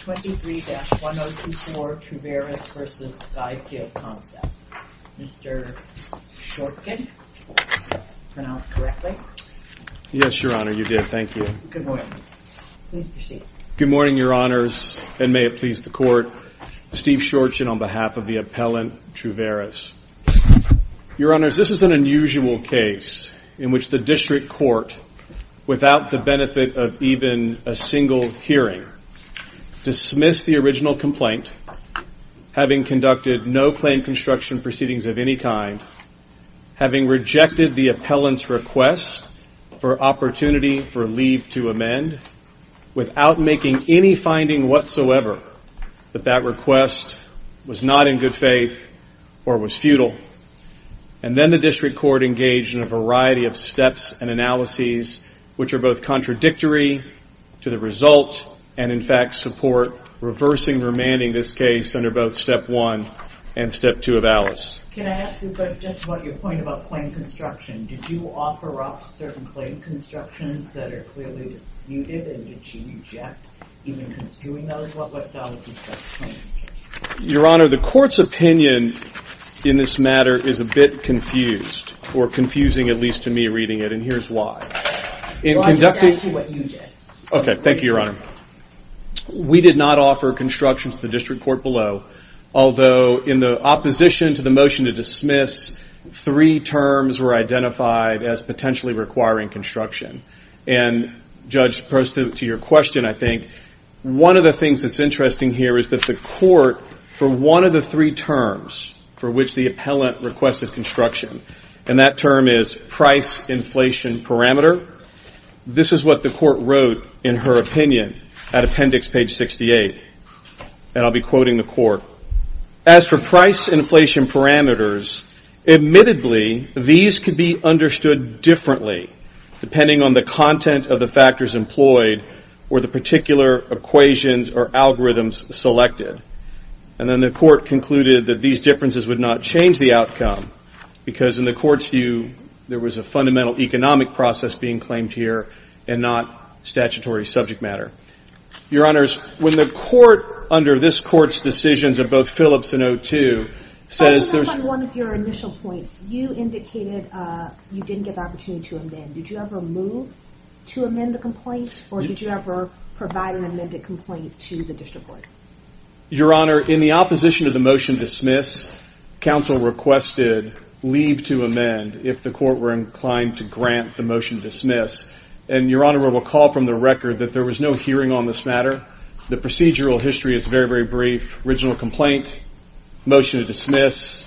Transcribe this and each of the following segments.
23-1024 Troveris v. SkySail Concepts Dismiss the original complaint, having conducted no claim construction proceedings of any kind, having rejected the appellant's request for opportunity for leave to amend, without making any finding whatsoever that that request was not in good faith or was futile. And then the District Court engaged in a variety of steps and analyses which are both contradictory to the result and, in fact, support reversing and remanding this case under both Step 1 and Step 2 of ALICE. Can I ask you just about your point about claim construction? Did you offer up certain claim constructions that are clearly disputed and did you reject even constituting those? What dollars was that claim? Your Honor, the Court's opinion in this matter is a bit confused, or confusing at least to me reading it, and here's why. Well, I'll just ask you what you did. Okay, thank you, Your Honor. We did not offer constructions to the District Court below, although in the opposition to the motion to dismiss, three terms were identified as potentially requiring construction. And, Judge, to your question, I think, one of the things that's interesting here is that the Court, for one of the three terms for which the appellant requested construction, and that term is price inflation parameter, this is what the Court wrote in her opinion at appendix page 68, and I'll be quoting the Court. As for price inflation parameters, admittedly, these could be understood differently depending on the content of the factors employed or the particular equations or algorithms selected. And then the Court concluded that these differences would not change the outcome, because in the Court's view, there was a fundamental economic process being claimed here, and not statutory subject matter. Your Honors, when the Court, under this Court's decisions of both Phillips and O2, says there's One of your initial points, you indicated you didn't get the opportunity to amend. Did you ever move to amend the complaint, or did you ever provide an amended complaint to the District Court? Your Honor, in the opposition to the motion to dismiss, counsel requested leave to amend if the Court were inclined to grant the motion to dismiss. And, Your Honor, we'll recall from the record that there was no hearing on this matter. The procedural history is very, very brief. Original complaint, motion to dismiss,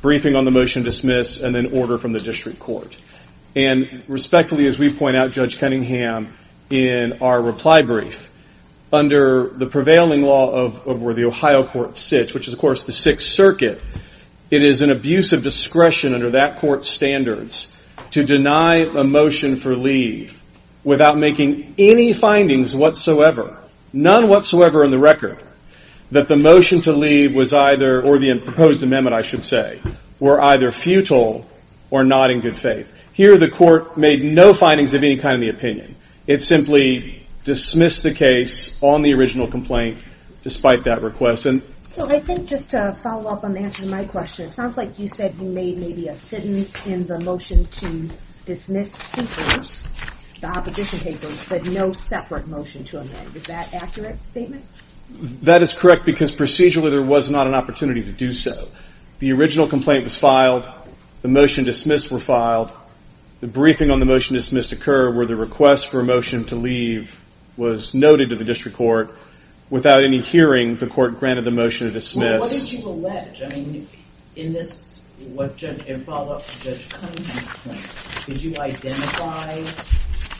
briefing on the motion to dismiss, and then order from the District Court. And respectfully, as we point out, Judge Cunningham, in our reply brief, under the prevailing law of where the Ohio Court sits, which is, of course, the Sixth Circuit, it is an abuse of discretion under that Court's standards to deny a motion for leave without making any findings whatsoever, none whatsoever on the record, that the motion to leave was either, or the proposed amendment, I should say, were either futile or not in good faith. Here, the Court made no findings of any kind in the opinion. It simply dismissed the case on the original complaint, despite that request. So, I think, just to follow up on the answer to my question, it sounds like you said you made maybe a sentence in the motion to dismiss papers, the opposition papers, but no separate motion to amend. Is that an accurate statement? That is correct, because procedurally, there was not an opportunity to do so. The original complaint was filed. The motion to dismiss were filed. The briefing on the motion to dismiss occurred where the request for a motion to leave was noted to the District Court. Without any hearing, the Court granted the motion to dismiss. Well, what did you allege? I mean, in this, in follow-up to Judge Cunningham's claim, did you identify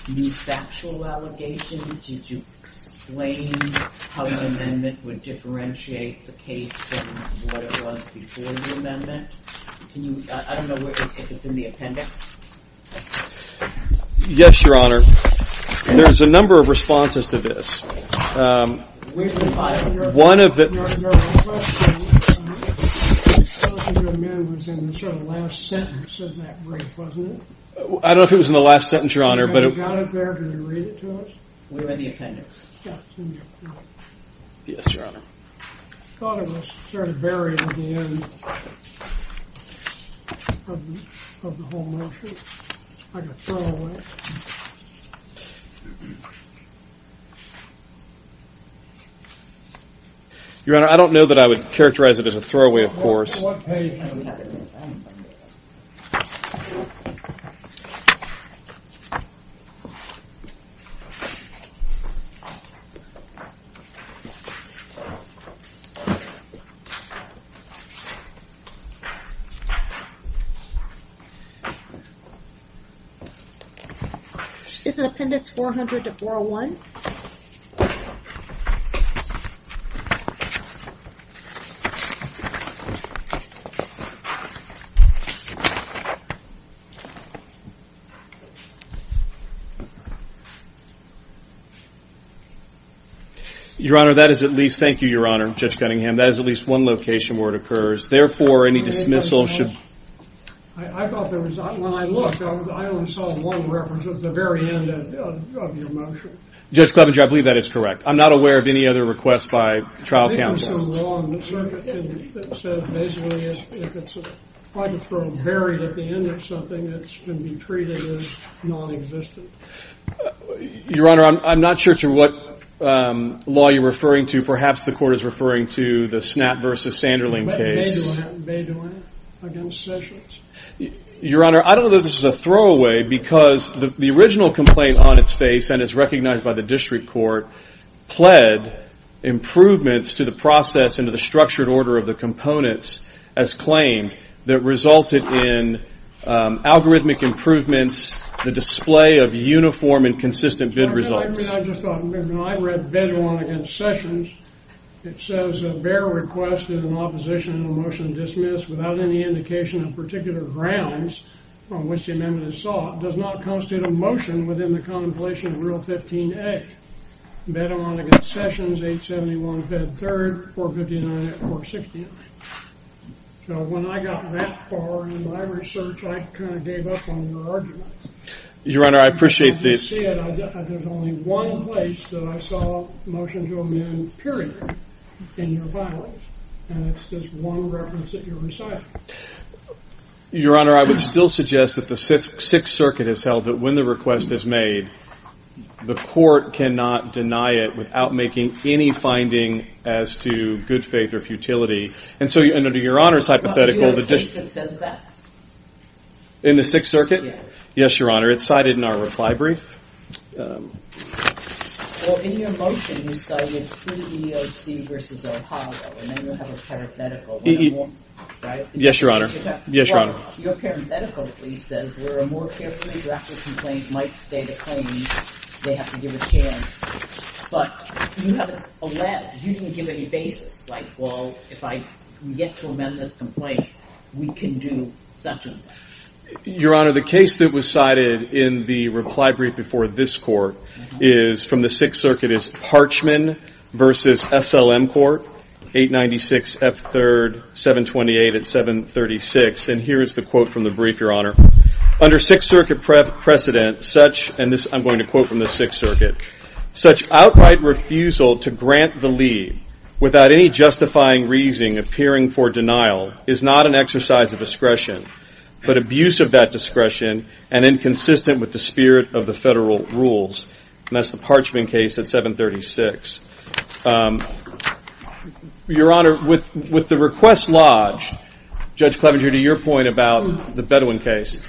any factual allegations? Did you explain how the amendment would differentiate the case from what it was before the amendment? I don't know if it's in the appendix. Yes, Your Honor. There's a number of responses to this. One of the... I don't know if it was in the last sentence, Your Honor, but... Yes, Your Honor. Your Honor, I don't know that I would characterize it as a throwaway, of course. Okay, Your Honor. It's in Appendix 400-401. Okay. Your Honor, that is at least, thank you, Your Honor, Judge Cunningham, that is at least one location where it occurs. Therefore, any dismissal should... I thought there was, when I looked, I only saw one reference at the very end of your motion. Judge Clevenger, I believe that is correct. I'm not aware of any other requests by trial counsel. Your Honor, I'm not sure to what law you're referring to. Perhaps the court is referring to the Snap v. Sanderling case. They're doing it against sessions. Your Honor, I don't know that this is a throwaway, because the original complaint on its face, and is recognized by the district court, pled improvements to the process and to the structured order of the components as claimed that resulted in algorithmic improvements, the display of uniform and consistent bid results. Your Honor, I mean, I just thought, when I read bid along against sessions, it says a bearer requested an opposition and a motion dismissed without any indication of particular grounds from which the amendment is sought, does not constitute a motion within the contemplation of Rule 15a. Bid along against sessions, 871 Fed 3rd, 459 Act 469. So when I got that far in my research, I kind of gave up on your argument. Your Honor, I appreciate the... As I said, there's only one place that I saw a motion to amend, period, in your files. And it's this one reference that you're reciting. Your Honor, I would still suggest that the Sixth Circuit has held that when the request is made, the court cannot deny it without making any finding as to good faith or futility. And so, under Your Honor's hypothetical, the district... Well, do you have a case that says that? In the Sixth Circuit? Yes. Yes, Your Honor. It's cited in our reply brief. Well, in your motion, you cited CEOC versus Ohio, and then you have a parenthetical. Yes, Your Honor. Yes, Your Honor. Your parenthetical, at least, says, where a more carefully drafted complaint might state a claim, they have to give a chance. But you haven't alleged. You didn't give any basis. Like, well, if I get to amend this complaint, we can do such and such. Your Honor, the case that was cited in the reply brief before this court is from the Sixth Circuit, is Parchman v. S.L.M. Court, 896 F. 3rd, 728 at 736. And here is the quote from the brief, Your Honor. Under Sixth Circuit precedent, such, and I'm going to quote from the Sixth Circuit, such outright refusal to grant the leave without any justifying reason appearing for denial is not an exercise of discretion, but abuse of that discretion and inconsistent with the spirit of the federal rules. And that's the Parchman case at 736. Your Honor, with the request lodged, Judge Clevenger, to your point about the Bedouin case,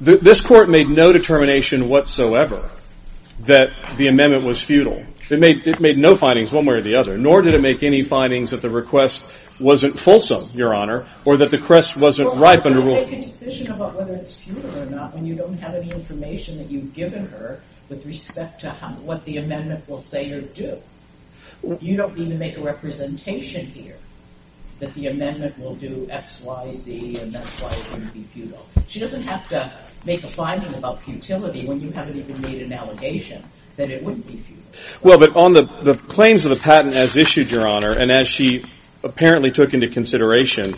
this court made no determination whatsoever that the amendment was futile. It made no findings one way or the other, nor did it make any findings that the request wasn't fulsome, Your Honor, or that the crest wasn't ripe under rule of law. Well, you're making a decision about whether it's futile or not when you don't have any information that you've given her with respect to what the amendment will say or do. You don't need to make a representation here that the amendment will do X, Y, Z, and that's why it wouldn't be futile. She doesn't have to make a finding about futility when you haven't even made an allegation that it wouldn't be futile. Well, but on the claims of the patent as issued, Your Honor, and as she apparently took into consideration,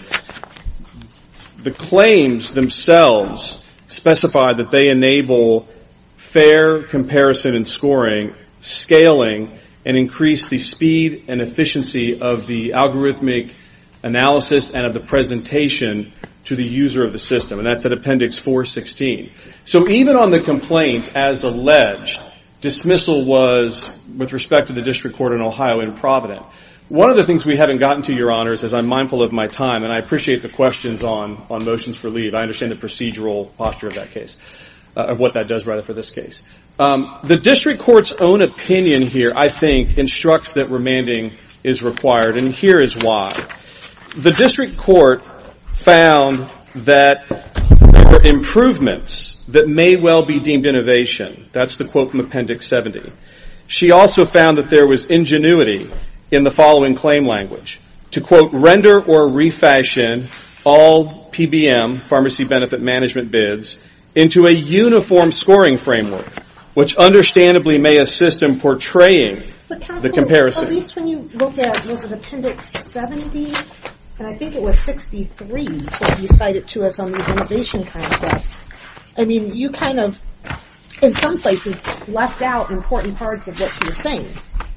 the claims themselves specify that they enable fair comparison and scoring, scaling, and increase the speed and efficiency of the algorithmic analysis and of the presentation to the user of the system, and that's at Appendix 416. So even on the complaint, as alleged, dismissal was, with respect to the District Court in Ohio and Providence. One of the things we haven't gotten to, Your Honor, is as I'm mindful of my time, and I appreciate the questions on motions for leave, I understand the procedural posture of that case, of what that does, rather, for this case. The District Court's own opinion here, I think, instructs that remanding is required, and here is why. The District Court found that there were improvements that may well be deemed innovation. That's the quote from Appendix 70. She also found that there was ingenuity in the following claim language, to quote, render or refashion all PBM, pharmacy benefit management bids, into a uniform scoring framework, which understandably may assist in portraying the comparison. At least when you look at, was it Appendix 70? And I think it was 63 that you cited to us on these innovation concepts. I mean, you kind of, in some places, left out important parts of what she was saying,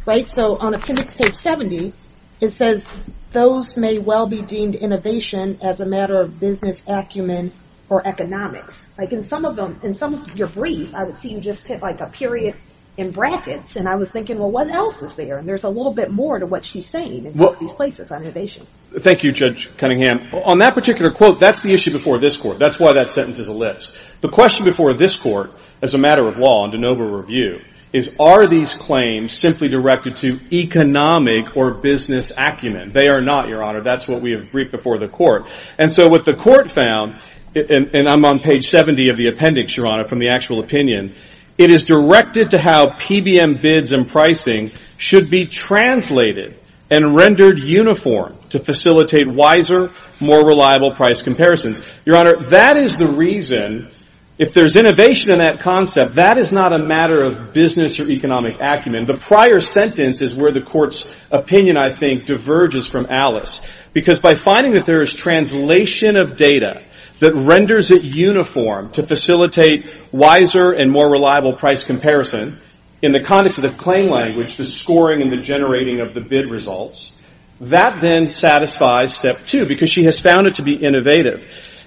right? So on Appendix page 70, it says, those may well be deemed innovation as a matter of business acumen or economics. Like in some of them, in some of your brief, I would see you just put like a period in brackets, and I was thinking, well, what else is there? And there's a little bit more to what she's saying in some of these places on innovation. Thank you, Judge Cunningham. On that particular quote, that's the issue before this court. That's why that sentence is a list. The question before this court, as a matter of law and de novo review, is are these claims simply directed to economic or business acumen? They are not, Your Honor. That's what we have briefed before the court. And so what the court found, and I'm on page 70 of the appendix, Your Honor, from the actual opinion, it is directed to how PBM bids and pricing should be translated and rendered uniform to facilitate wiser, more reliable price comparisons. Your Honor, that is the reason, if there's innovation in that concept, that is not a matter of business or economic acumen. The prior sentence is where the court's opinion, I think, diverges from Alice, because by finding that there is translation of data that renders it uniform to facilitate wiser and more reliable price comparison, in the context of the claim language, the scoring, and the generating of the bid results, that then satisfies step two, because she has found it to be innovative.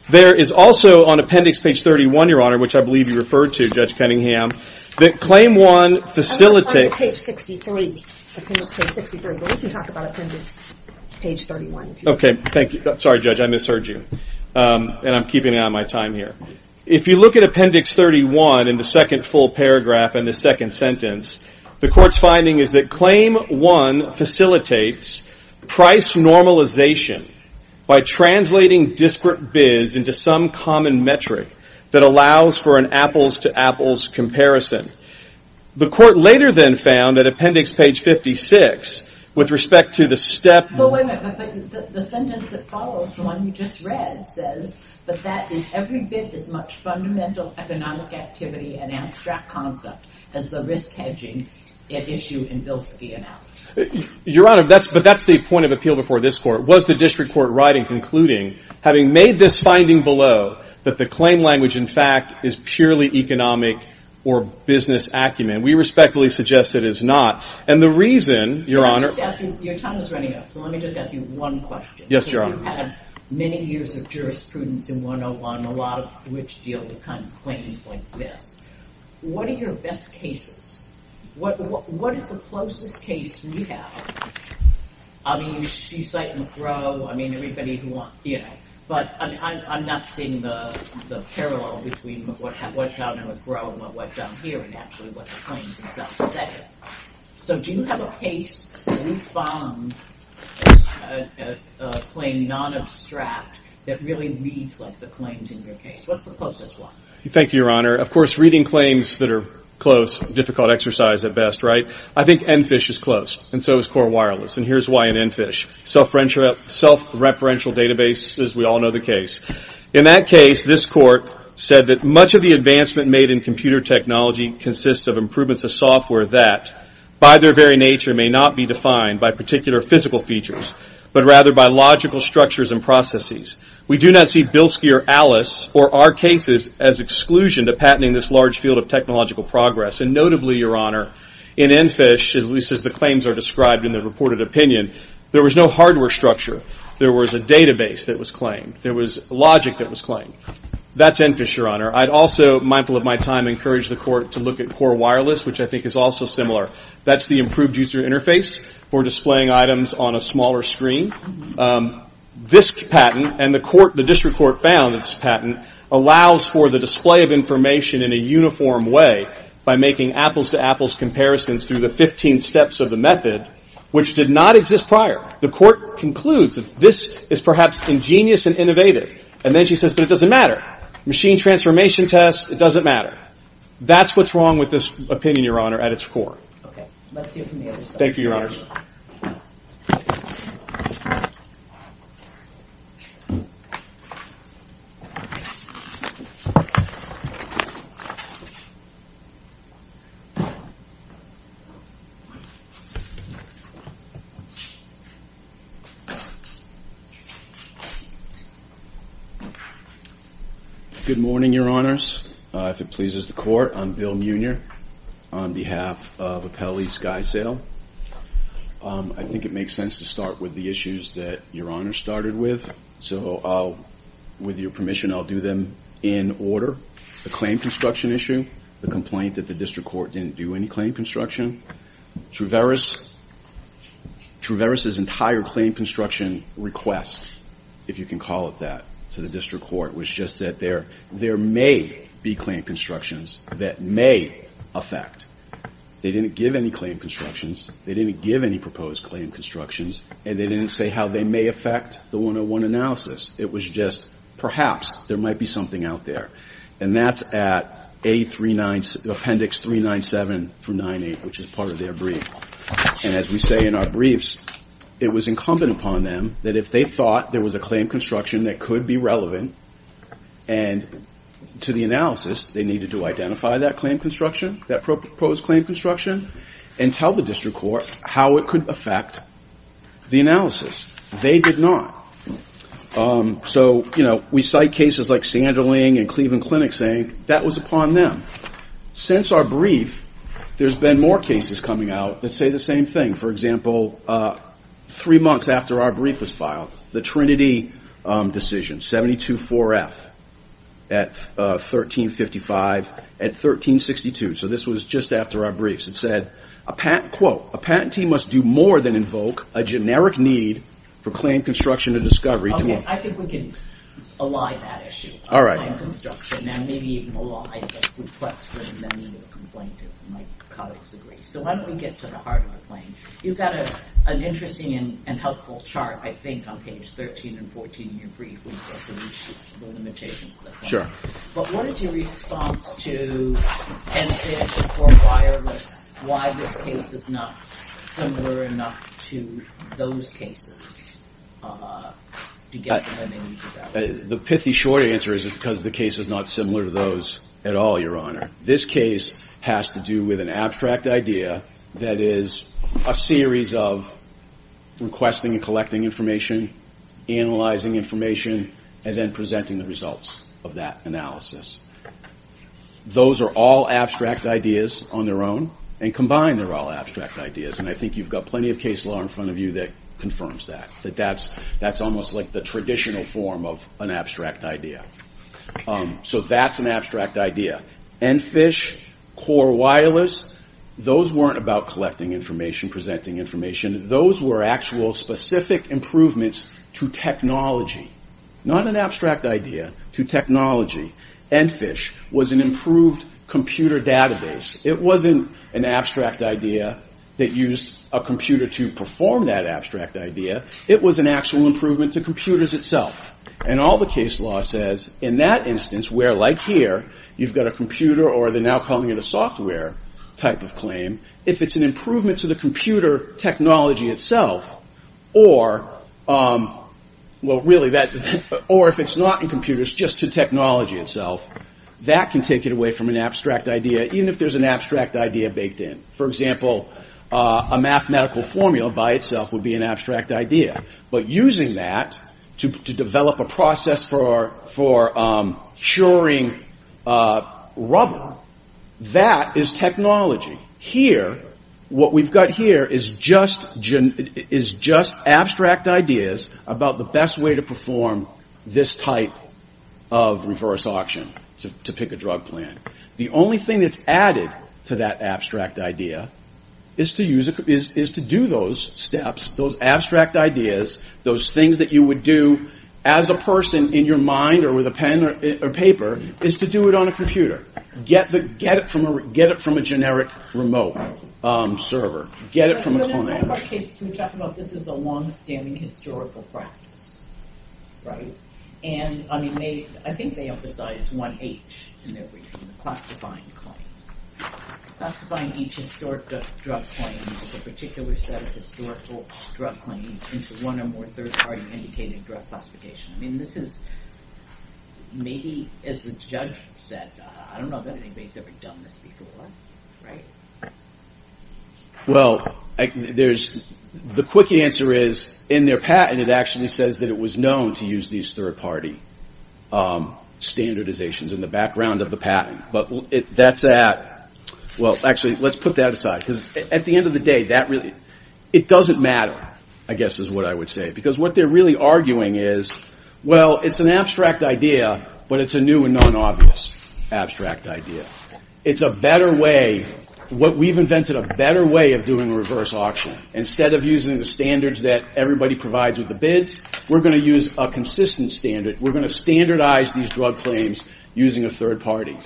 There is also on appendix page 31, Your Honor, which I believe you referred to, Judge Cunningham, that claim one facilitates. I'm talking about page 63, appendix page 63, but we can talk about appendix page 31. Okay, thank you. Sorry, Judge, I misheard you, and I'm keeping out of my time here. If you look at appendix 31 in the second full paragraph in the second sentence, the court's finding is that claim one facilitates price normalization by translating disparate bids into some common metric that allows for an apples-to-apples comparison. The court later then found that appendix page 56, with respect to the step... Well, wait a minute, but the sentence that follows, the one you just read, says that that is every bid as much fundamental economic activity and abstract concept as the risk hedging at issue in Bilski and Allen. Your Honor, but that's the point of appeal before this court. Was the district court right in concluding, having made this finding below, that the claim language, in fact, is purely economic or business acumen? We respectfully suggest it is not, and the reason, Your Honor... Your time is running out, so let me just ask you one question. Yes, Your Honor. You've had many years of jurisprudence in 101, a lot of which deal with claims like this. What are your best cases? What is the closest case you have? I mean, you cite McGraw. I mean, everybody who wants... But I'm not seeing the parallel between what's out in McGraw and what's out here and actually what the claims themselves say. So do you have a case where you found a claim non-abstract that really reads like the claims in your case? What's the closest one? Thank you, Your Honor. Of course, reading claims that are close, difficult exercise at best, right? I think EnFish is close, and so is Core Wireless, and here's why in EnFish. Self-referential databases, we all know the case. In that case, this court said that much of the advancement made in computer technology consists of improvements of software that, by their very nature, may not be defined by particular physical features, but rather by logical structures and processes. We do not see Bilski or Alice, or our cases, as exclusion to patenting this large field of technological progress. And notably, Your Honor, in EnFish, at least as the claims are described in the reported opinion, there was no hardware structure. There was a database that was claimed. There was logic that was claimed. That's EnFish, Your Honor. I'd also, mindful of my time, encourage the court to look at Core Wireless, which I think is also similar. That's the improved user interface for displaying items on a smaller screen. This patent, and the district court found this patent, allows for the display of information in a uniform way by making apples-to-apples comparisons through the 15 steps of the method, which did not exist prior. The court concludes that this is perhaps ingenious and innovative. And then she says, but it doesn't matter. Machine transformation tests, it doesn't matter. That's what's wrong with this opinion, Your Honor, at its core. Okay. Let's hear from the other side. Thank you, Your Honor. Good morning, Your Honors. If it pleases the court, I'm Bill Munier on behalf of Apelli SkySail. I think it makes sense to start with the issues that Your Honor started with. So with your permission, I'll do them in order. The claim construction issue, the complaint that the district court didn't do any claim construction, Truveris's entire claim construction request, if you can call it that, to the district court was just that there may be claim constructions that may affect. They didn't give any claim constructions. They didn't give any proposed claim constructions. And they didn't say how they may affect the 101 analysis. It was just perhaps there might be something out there. And that's at Appendix 397 through 98, which is part of their brief. And as we say in our briefs, it was incumbent upon them that if they thought there was a claim construction that could be relevant and to the analysis, they needed to identify that claim construction, that proposed claim construction, and tell the district court how it could affect the analysis. They did not. So we cite cases like Sanderling and Cleveland Clinic saying that was upon them. Since our brief, there's been more cases coming out that say the same thing. For example, three months after our brief was filed, the Trinity decision, 724F at 1355, at 1362. So this was just after our briefs. It said, quote, a patentee must do more than invoke a generic need for claim construction or discovery. Okay, I think we can ally that issue. All right. Claim construction and maybe even ally a request for the need of a complaint. My colleagues agree. So why don't we get to the heart of the claim. You've got an interesting and helpful chart, I think, on page 13 and 14 in your brief, which is the limitations of the claim. Sure. But what is your response to an issue for wireless, why this case is not similar enough to those cases to get them when they need to go? The pithy short answer is it's because the case is not similar to those at all, Your Honor. This case has to do with an abstract idea that is a series of requesting and collecting information, analyzing information, and then presenting the results of that analysis. Those are all abstract ideas on their own, and combined, they're all abstract ideas. And I think you've got plenty of case law in front of you that confirms that, that that's almost like the traditional form of an abstract idea. So that's an abstract idea. ENFISH, Core Wireless, those weren't about collecting information, presenting information. Those were actual specific improvements to technology, not an abstract idea, to technology. ENFISH was an improved computer database. It wasn't an abstract idea that used a computer to perform that abstract idea. It was an actual improvement to computers itself. And all the case law says in that instance where, like here, you've got a computer or they're now calling it a software type of claim, if it's an improvement to the computer technology itself, or if it's not in computers, just to technology itself, that can take it away from an abstract idea, even if there's an abstract idea baked in. For example, a mathematical formula by itself would be an abstract idea. But using that to develop a process for curing rubber, that is technology. Here, what we've got here is just abstract ideas about the best way to perform this type of reverse auction to pick a drug plan. The only thing that's added to that abstract idea is to do those steps, those abstract ideas, those things that you would do as a person in your mind or with a pen or paper, is to do it on a computer. Get it from a generic remote server. Get it from a phone. This is a long-standing historical practice, right? And I think they emphasize 1H in their briefing, the classifying claim. Classifying each historic drug claim into a particular set of historical drug claims into one or more third-party indicated drug classifications. I mean, this is maybe, as the judge said, I don't know if anybody's ever done this before, right? Well, the quick answer is, in their patent, it actually says that it was known to use these third-party standardizations in the background of the patent. But that's that. Well, actually, let's put that aside, because at the end of the day, it doesn't matter, I guess is what I would say. Because what they're really arguing is, well, it's an abstract idea, but it's a new and non-obvious abstract idea. It's a better way, what we've invented, a better way of doing reverse auction. Instead of using the standards that everybody provides with the bids, we're going to use a consistent standard. We're going to standardize these drug claims using a third party.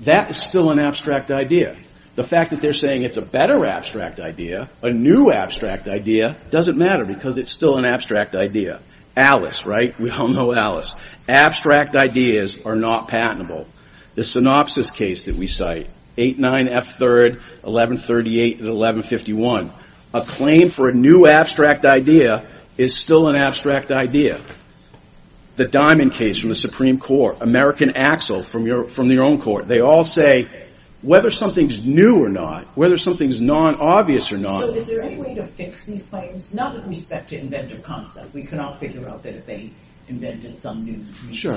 That is still an abstract idea. The fact that they're saying it's a better abstract idea, a new abstract idea, doesn't matter, because it's still an abstract idea. Alice, right? We all know Alice. Abstract ideas are not patentable. The synopsis case that we cite, 8-9-F-3rd, 1138 and 1151. A claim for a new abstract idea is still an abstract idea. The Diamond case from the Supreme Court, American Axel from your own court. They all say, whether something's new or not, whether something's non-obvious or not. So is there any way to fix these claims? Not with respect to inventive concept. We can all figure out that if they invented some new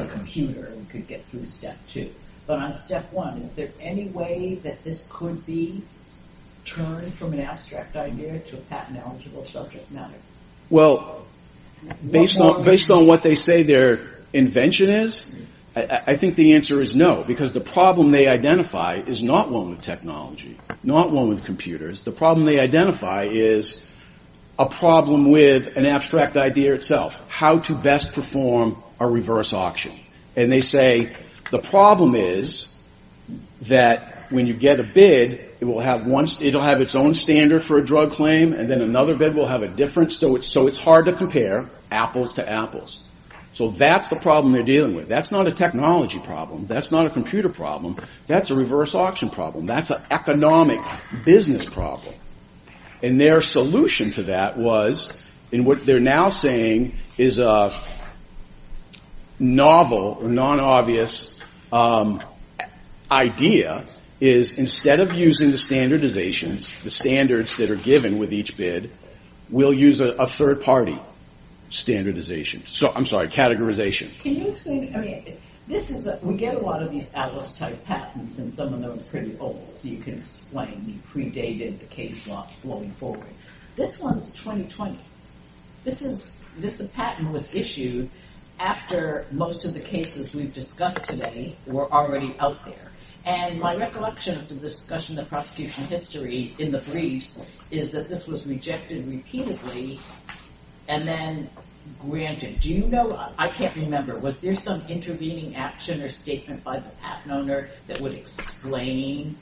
computer, we could get through step two. But on step one, is there any way that this could be turned from an abstract idea to a patent-eligible subject matter? Well, based on what they say their invention is, I think the answer is no. Because the problem they identify is not one with technology, not one with computers. The problem they identify is a problem with an abstract idea itself. How to best perform a reverse auction. And they say the problem is that when you get a bid, it will have its own standard for a drug claim. And then another bid will have a different. So it's hard to compare apples to apples. So that's the problem they're dealing with. That's not a technology problem. That's not a computer problem. That's a reverse auction problem. That's an economic business problem. And their solution to that was, and what they're now saying is a novel or non-obvious idea, is instead of using the standardizations, the standards that are given with each bid, we'll use a third-party standardization. I'm sorry, categorization. Can you explain, I mean, this is, we get a lot of these Atlas-type patents, and some of them are pretty old, so you can explain the predated, the case law flowing forward. This one's 2020. This is, this patent was issued after most of the cases we've discussed today were already out there. And my recollection of the discussion of prosecution history in the briefs is that this was rejected repeatedly and then granted. Do you know, I can't remember, was there some intervening action or statement by the patent owner that would explain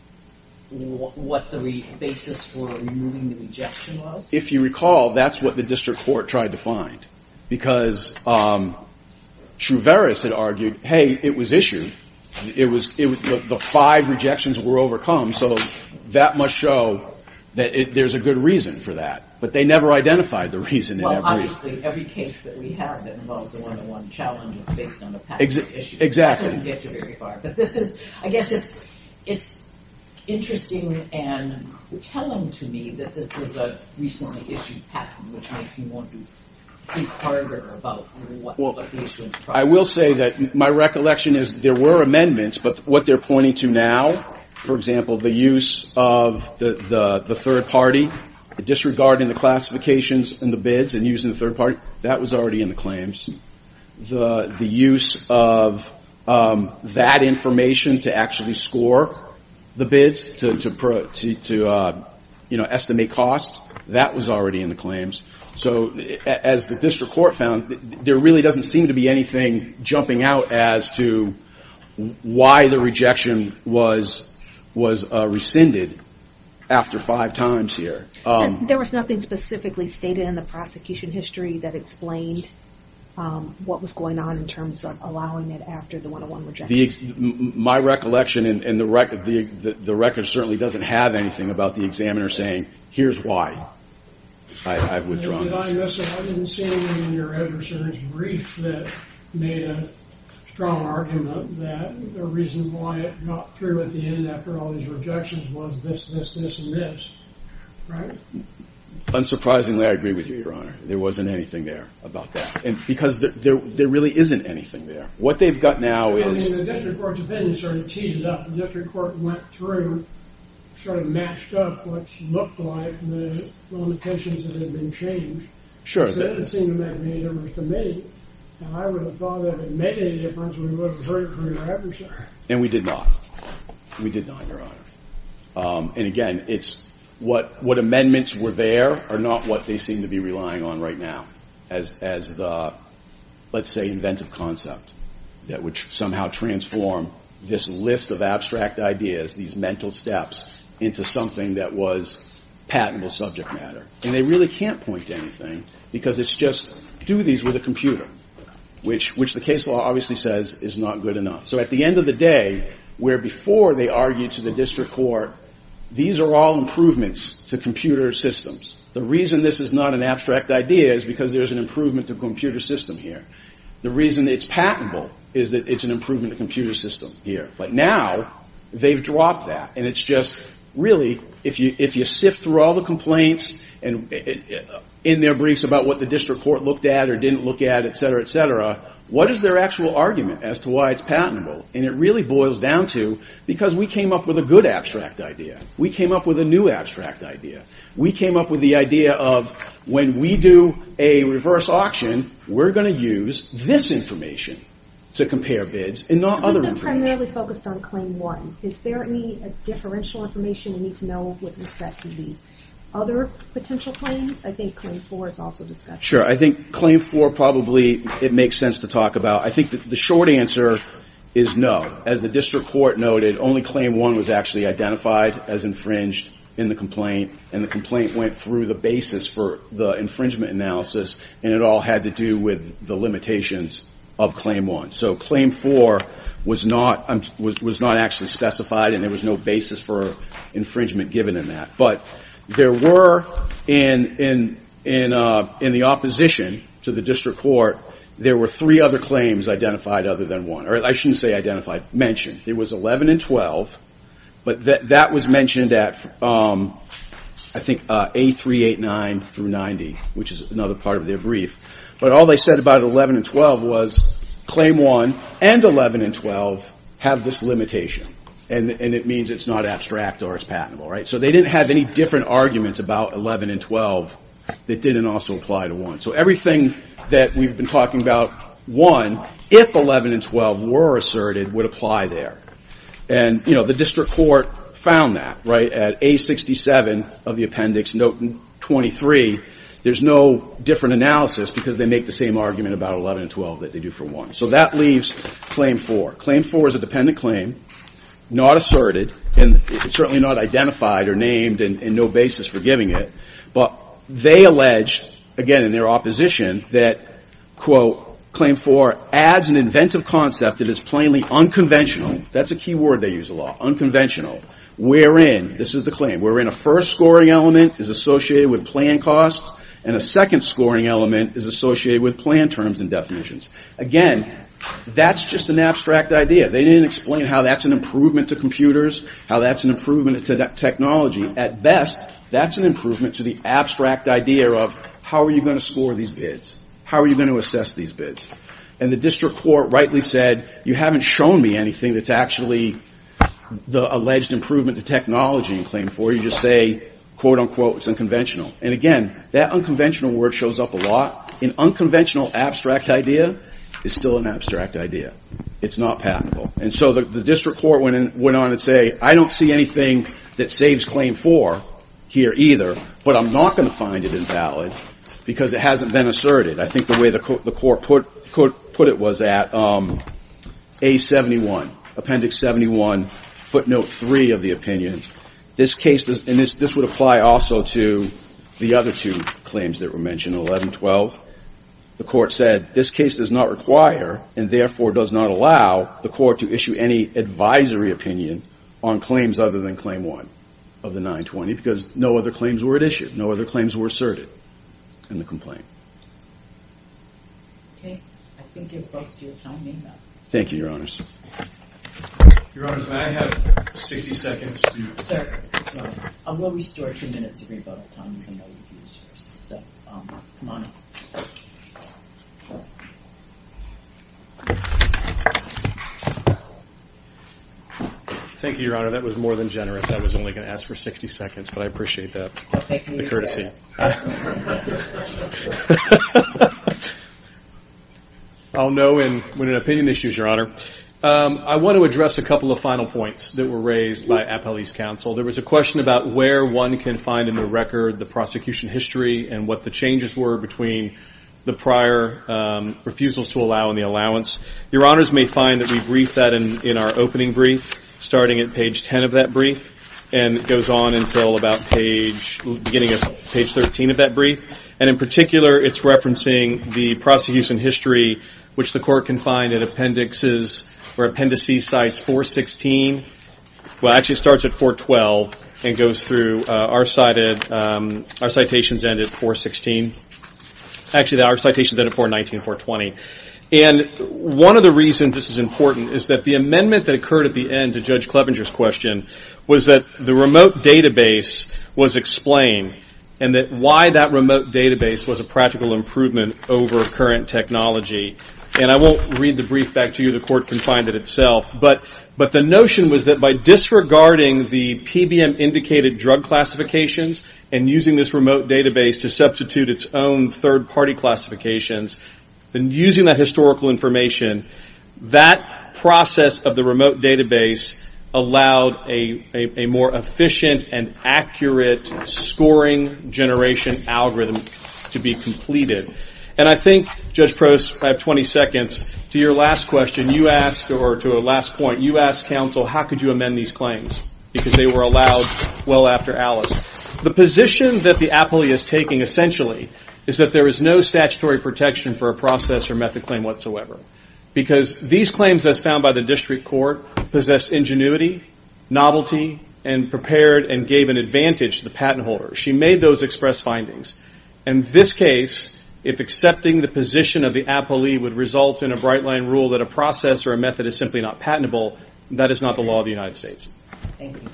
what the basis for removing the rejection was? If you recall, that's what the district court tried to find. Because Truveris had argued, hey, it was issued, the five rejections were overcome, so that must show that there's a good reason for that. But they never identified the reason. Well, obviously, every case that we have that involves a one-to-one challenge is based on a patent issue. Exactly. That doesn't get you very far. But this is, I guess it's interesting and telling to me that this was a recently issued patent, which makes me want to think harder about what the issue is. I will say that my recollection is there were amendments, but what they're pointing to now, for example, the use of the third party, disregarding the classifications in the bids and using the third party, that was already in the claims. The use of that information to actually score the bids, to estimate costs, that was already in the claims. As the district court found, there really doesn't seem to be anything jumping out as to why the rejection was rescinded after five times here. There was nothing specifically stated in the prosecution history that explained what was going on in terms of allowing it after the one-to-one rejection. My recollection, and the record certainly doesn't have anything about the examiner saying, here's why I've withdrawn this. Your Honor, I didn't see anything in your editor's brief that made a strong argument that the reason why it got through at the end after all these rejections was this, this, this, and this. Right? Unsurprisingly, I agree with you, Your Honor. There wasn't anything there about that. Because there really isn't anything there. What they've got now is... And we did not. We did not, Your Honor. And again, it's what amendments were there are not what they seem to be relying on right now as the, let's say, inventive concept that would somehow transform this list of abstract ideas, these mental steps, into something that was patentable subject matter. And they really can't point to anything because it's just do these with a computer, which the case law obviously says is not good enough. So at the end of the day, where before they argued to the district court, these are all improvements to computer systems. The reason this is not an abstract idea is because there's an improvement to computer system here. The reason it's patentable is that it's an improvement to computer system here. But now they've dropped that. And it's just really if you sift through all the complaints in their briefs about what the district court looked at or didn't look at, etc., etc., what is their actual argument as to why it's patentable? And it really boils down to because we came up with a good abstract idea. We came up with a new abstract idea. We came up with the idea of when we do a reverse auction, we're going to use this information to compare bids and not other information. But they're primarily focused on claim one. Is there any differential information we need to know with respect to the other potential claims? I think claim four is also discussed. Sure. I think claim four probably it makes sense to talk about. I think the short answer is no. As the district court noted, only claim one was actually identified as infringed in the complaint, and the complaint went through the basis for the infringement analysis, and it all had to do with the limitations of claim one. So claim four was not actually specified, and there was no basis for infringement given in that. But there were in the opposition to the district court, there were three other claims identified other than one. I shouldn't say identified. Mentioned. It was 11 and 12, but that was mentioned at, I think, A389 through 90, which is another part of their brief. But all they said about 11 and 12 was claim one and 11 and 12 have this limitation, and it means it's not abstract or it's patentable. So they didn't have any different arguments about 11 and 12 that didn't also apply to one. So everything that we've been talking about, one, if 11 and 12 were asserted, would apply there. And, you know, the district court found that, right, at A67 of the appendix note 23. There's no different analysis because they make the same argument about 11 and 12 that they do for one. So that leaves claim four. Claim four is a dependent claim, not asserted, and certainly not identified or named and no basis for giving it. But they alleged, again, in their opposition, that, quote, claim four adds an inventive concept that is plainly unconventional. That's a key word they use a lot, unconventional, wherein, this is the claim, wherein a first scoring element is associated with plan costs and a second scoring element is associated with plan terms and definitions. Again, that's just an abstract idea. They didn't explain how that's an improvement to computers, how that's an improvement to technology. At best, that's an improvement to the abstract idea of how are you going to score these bids? How are you going to assess these bids? And the district court rightly said, you haven't shown me anything that's actually the alleged improvement to technology in claim four. You just say, quote, unquote, it's unconventional. And, again, that unconventional word shows up a lot. An unconventional abstract idea is still an abstract idea. It's not patentable. And so the district court went on to say, I don't see anything that saves claim four here either, but I'm not going to find it invalid because it hasn't been asserted. I think the way the court put it was at A71, appendix 71, footnote three of the opinion. This case, and this would apply also to the other two claims that were mentioned, 11, 12. The court said, this case does not require, and therefore does not allow, the court to issue any advisory opinion on claims other than claim one of the 920, because no other claims were at issue. No other claims were asserted in the complaint. Okay. I think it's close to your time. Thank you, Your Honors. Your Honors, may I have 60 seconds? Sir, I will restore two minutes of your time. So, come on up. Thank you, Your Honor. That was more than generous. I was only going to ask for 60 seconds, but I appreciate that courtesy. I'll know when an opinion issues, Your Honor. I want to address a couple of final points that were raised by Appellee's counsel. There was a question about where one can find in the record the prosecution history and what the changes were between the prior refusals to allow and the allowance. Your Honors may find that we briefed that in our opening brief, starting at page 10 of that brief, and it goes on until about page 13 of that brief. And in particular, it's referencing the prosecution history, which the court can find in appendices or appendices sites 416. Well, it actually starts at 412 and goes through our citations end at 416. Actually, our citations end at 419 and 420. And one of the reasons this is important is that the amendment that occurred at the end to Judge Clevenger's question was that the remote database was explained and that why that remote database was a practical improvement over current technology. And I won't read the brief back to you. The court can find it itself. But the notion was that by disregarding the PBM-indicated drug classifications and using this remote database to substitute its own third-party classifications, and using that historical information, that process of the remote database allowed a more efficient and accurate scoring generation algorithm to be completed. And I think, Judge Prost, I have 20 seconds to your last question. You asked, or to a last point, you asked counsel, how could you amend these claims? Because they were allowed well after Alice. is that there is no statutory protection for a process or method claim whatsoever. Because these claims, as found by the district court, possess ingenuity, novelty, and prepared and gave an advantage to the patent holder. She made those express findings. In this case, if accepting the position of the appellee would result in a bright-line rule that a process or a method is simply not patentable, that is not the law of the United States. Thank you.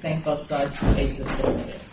Thank both sides. The case is submitted.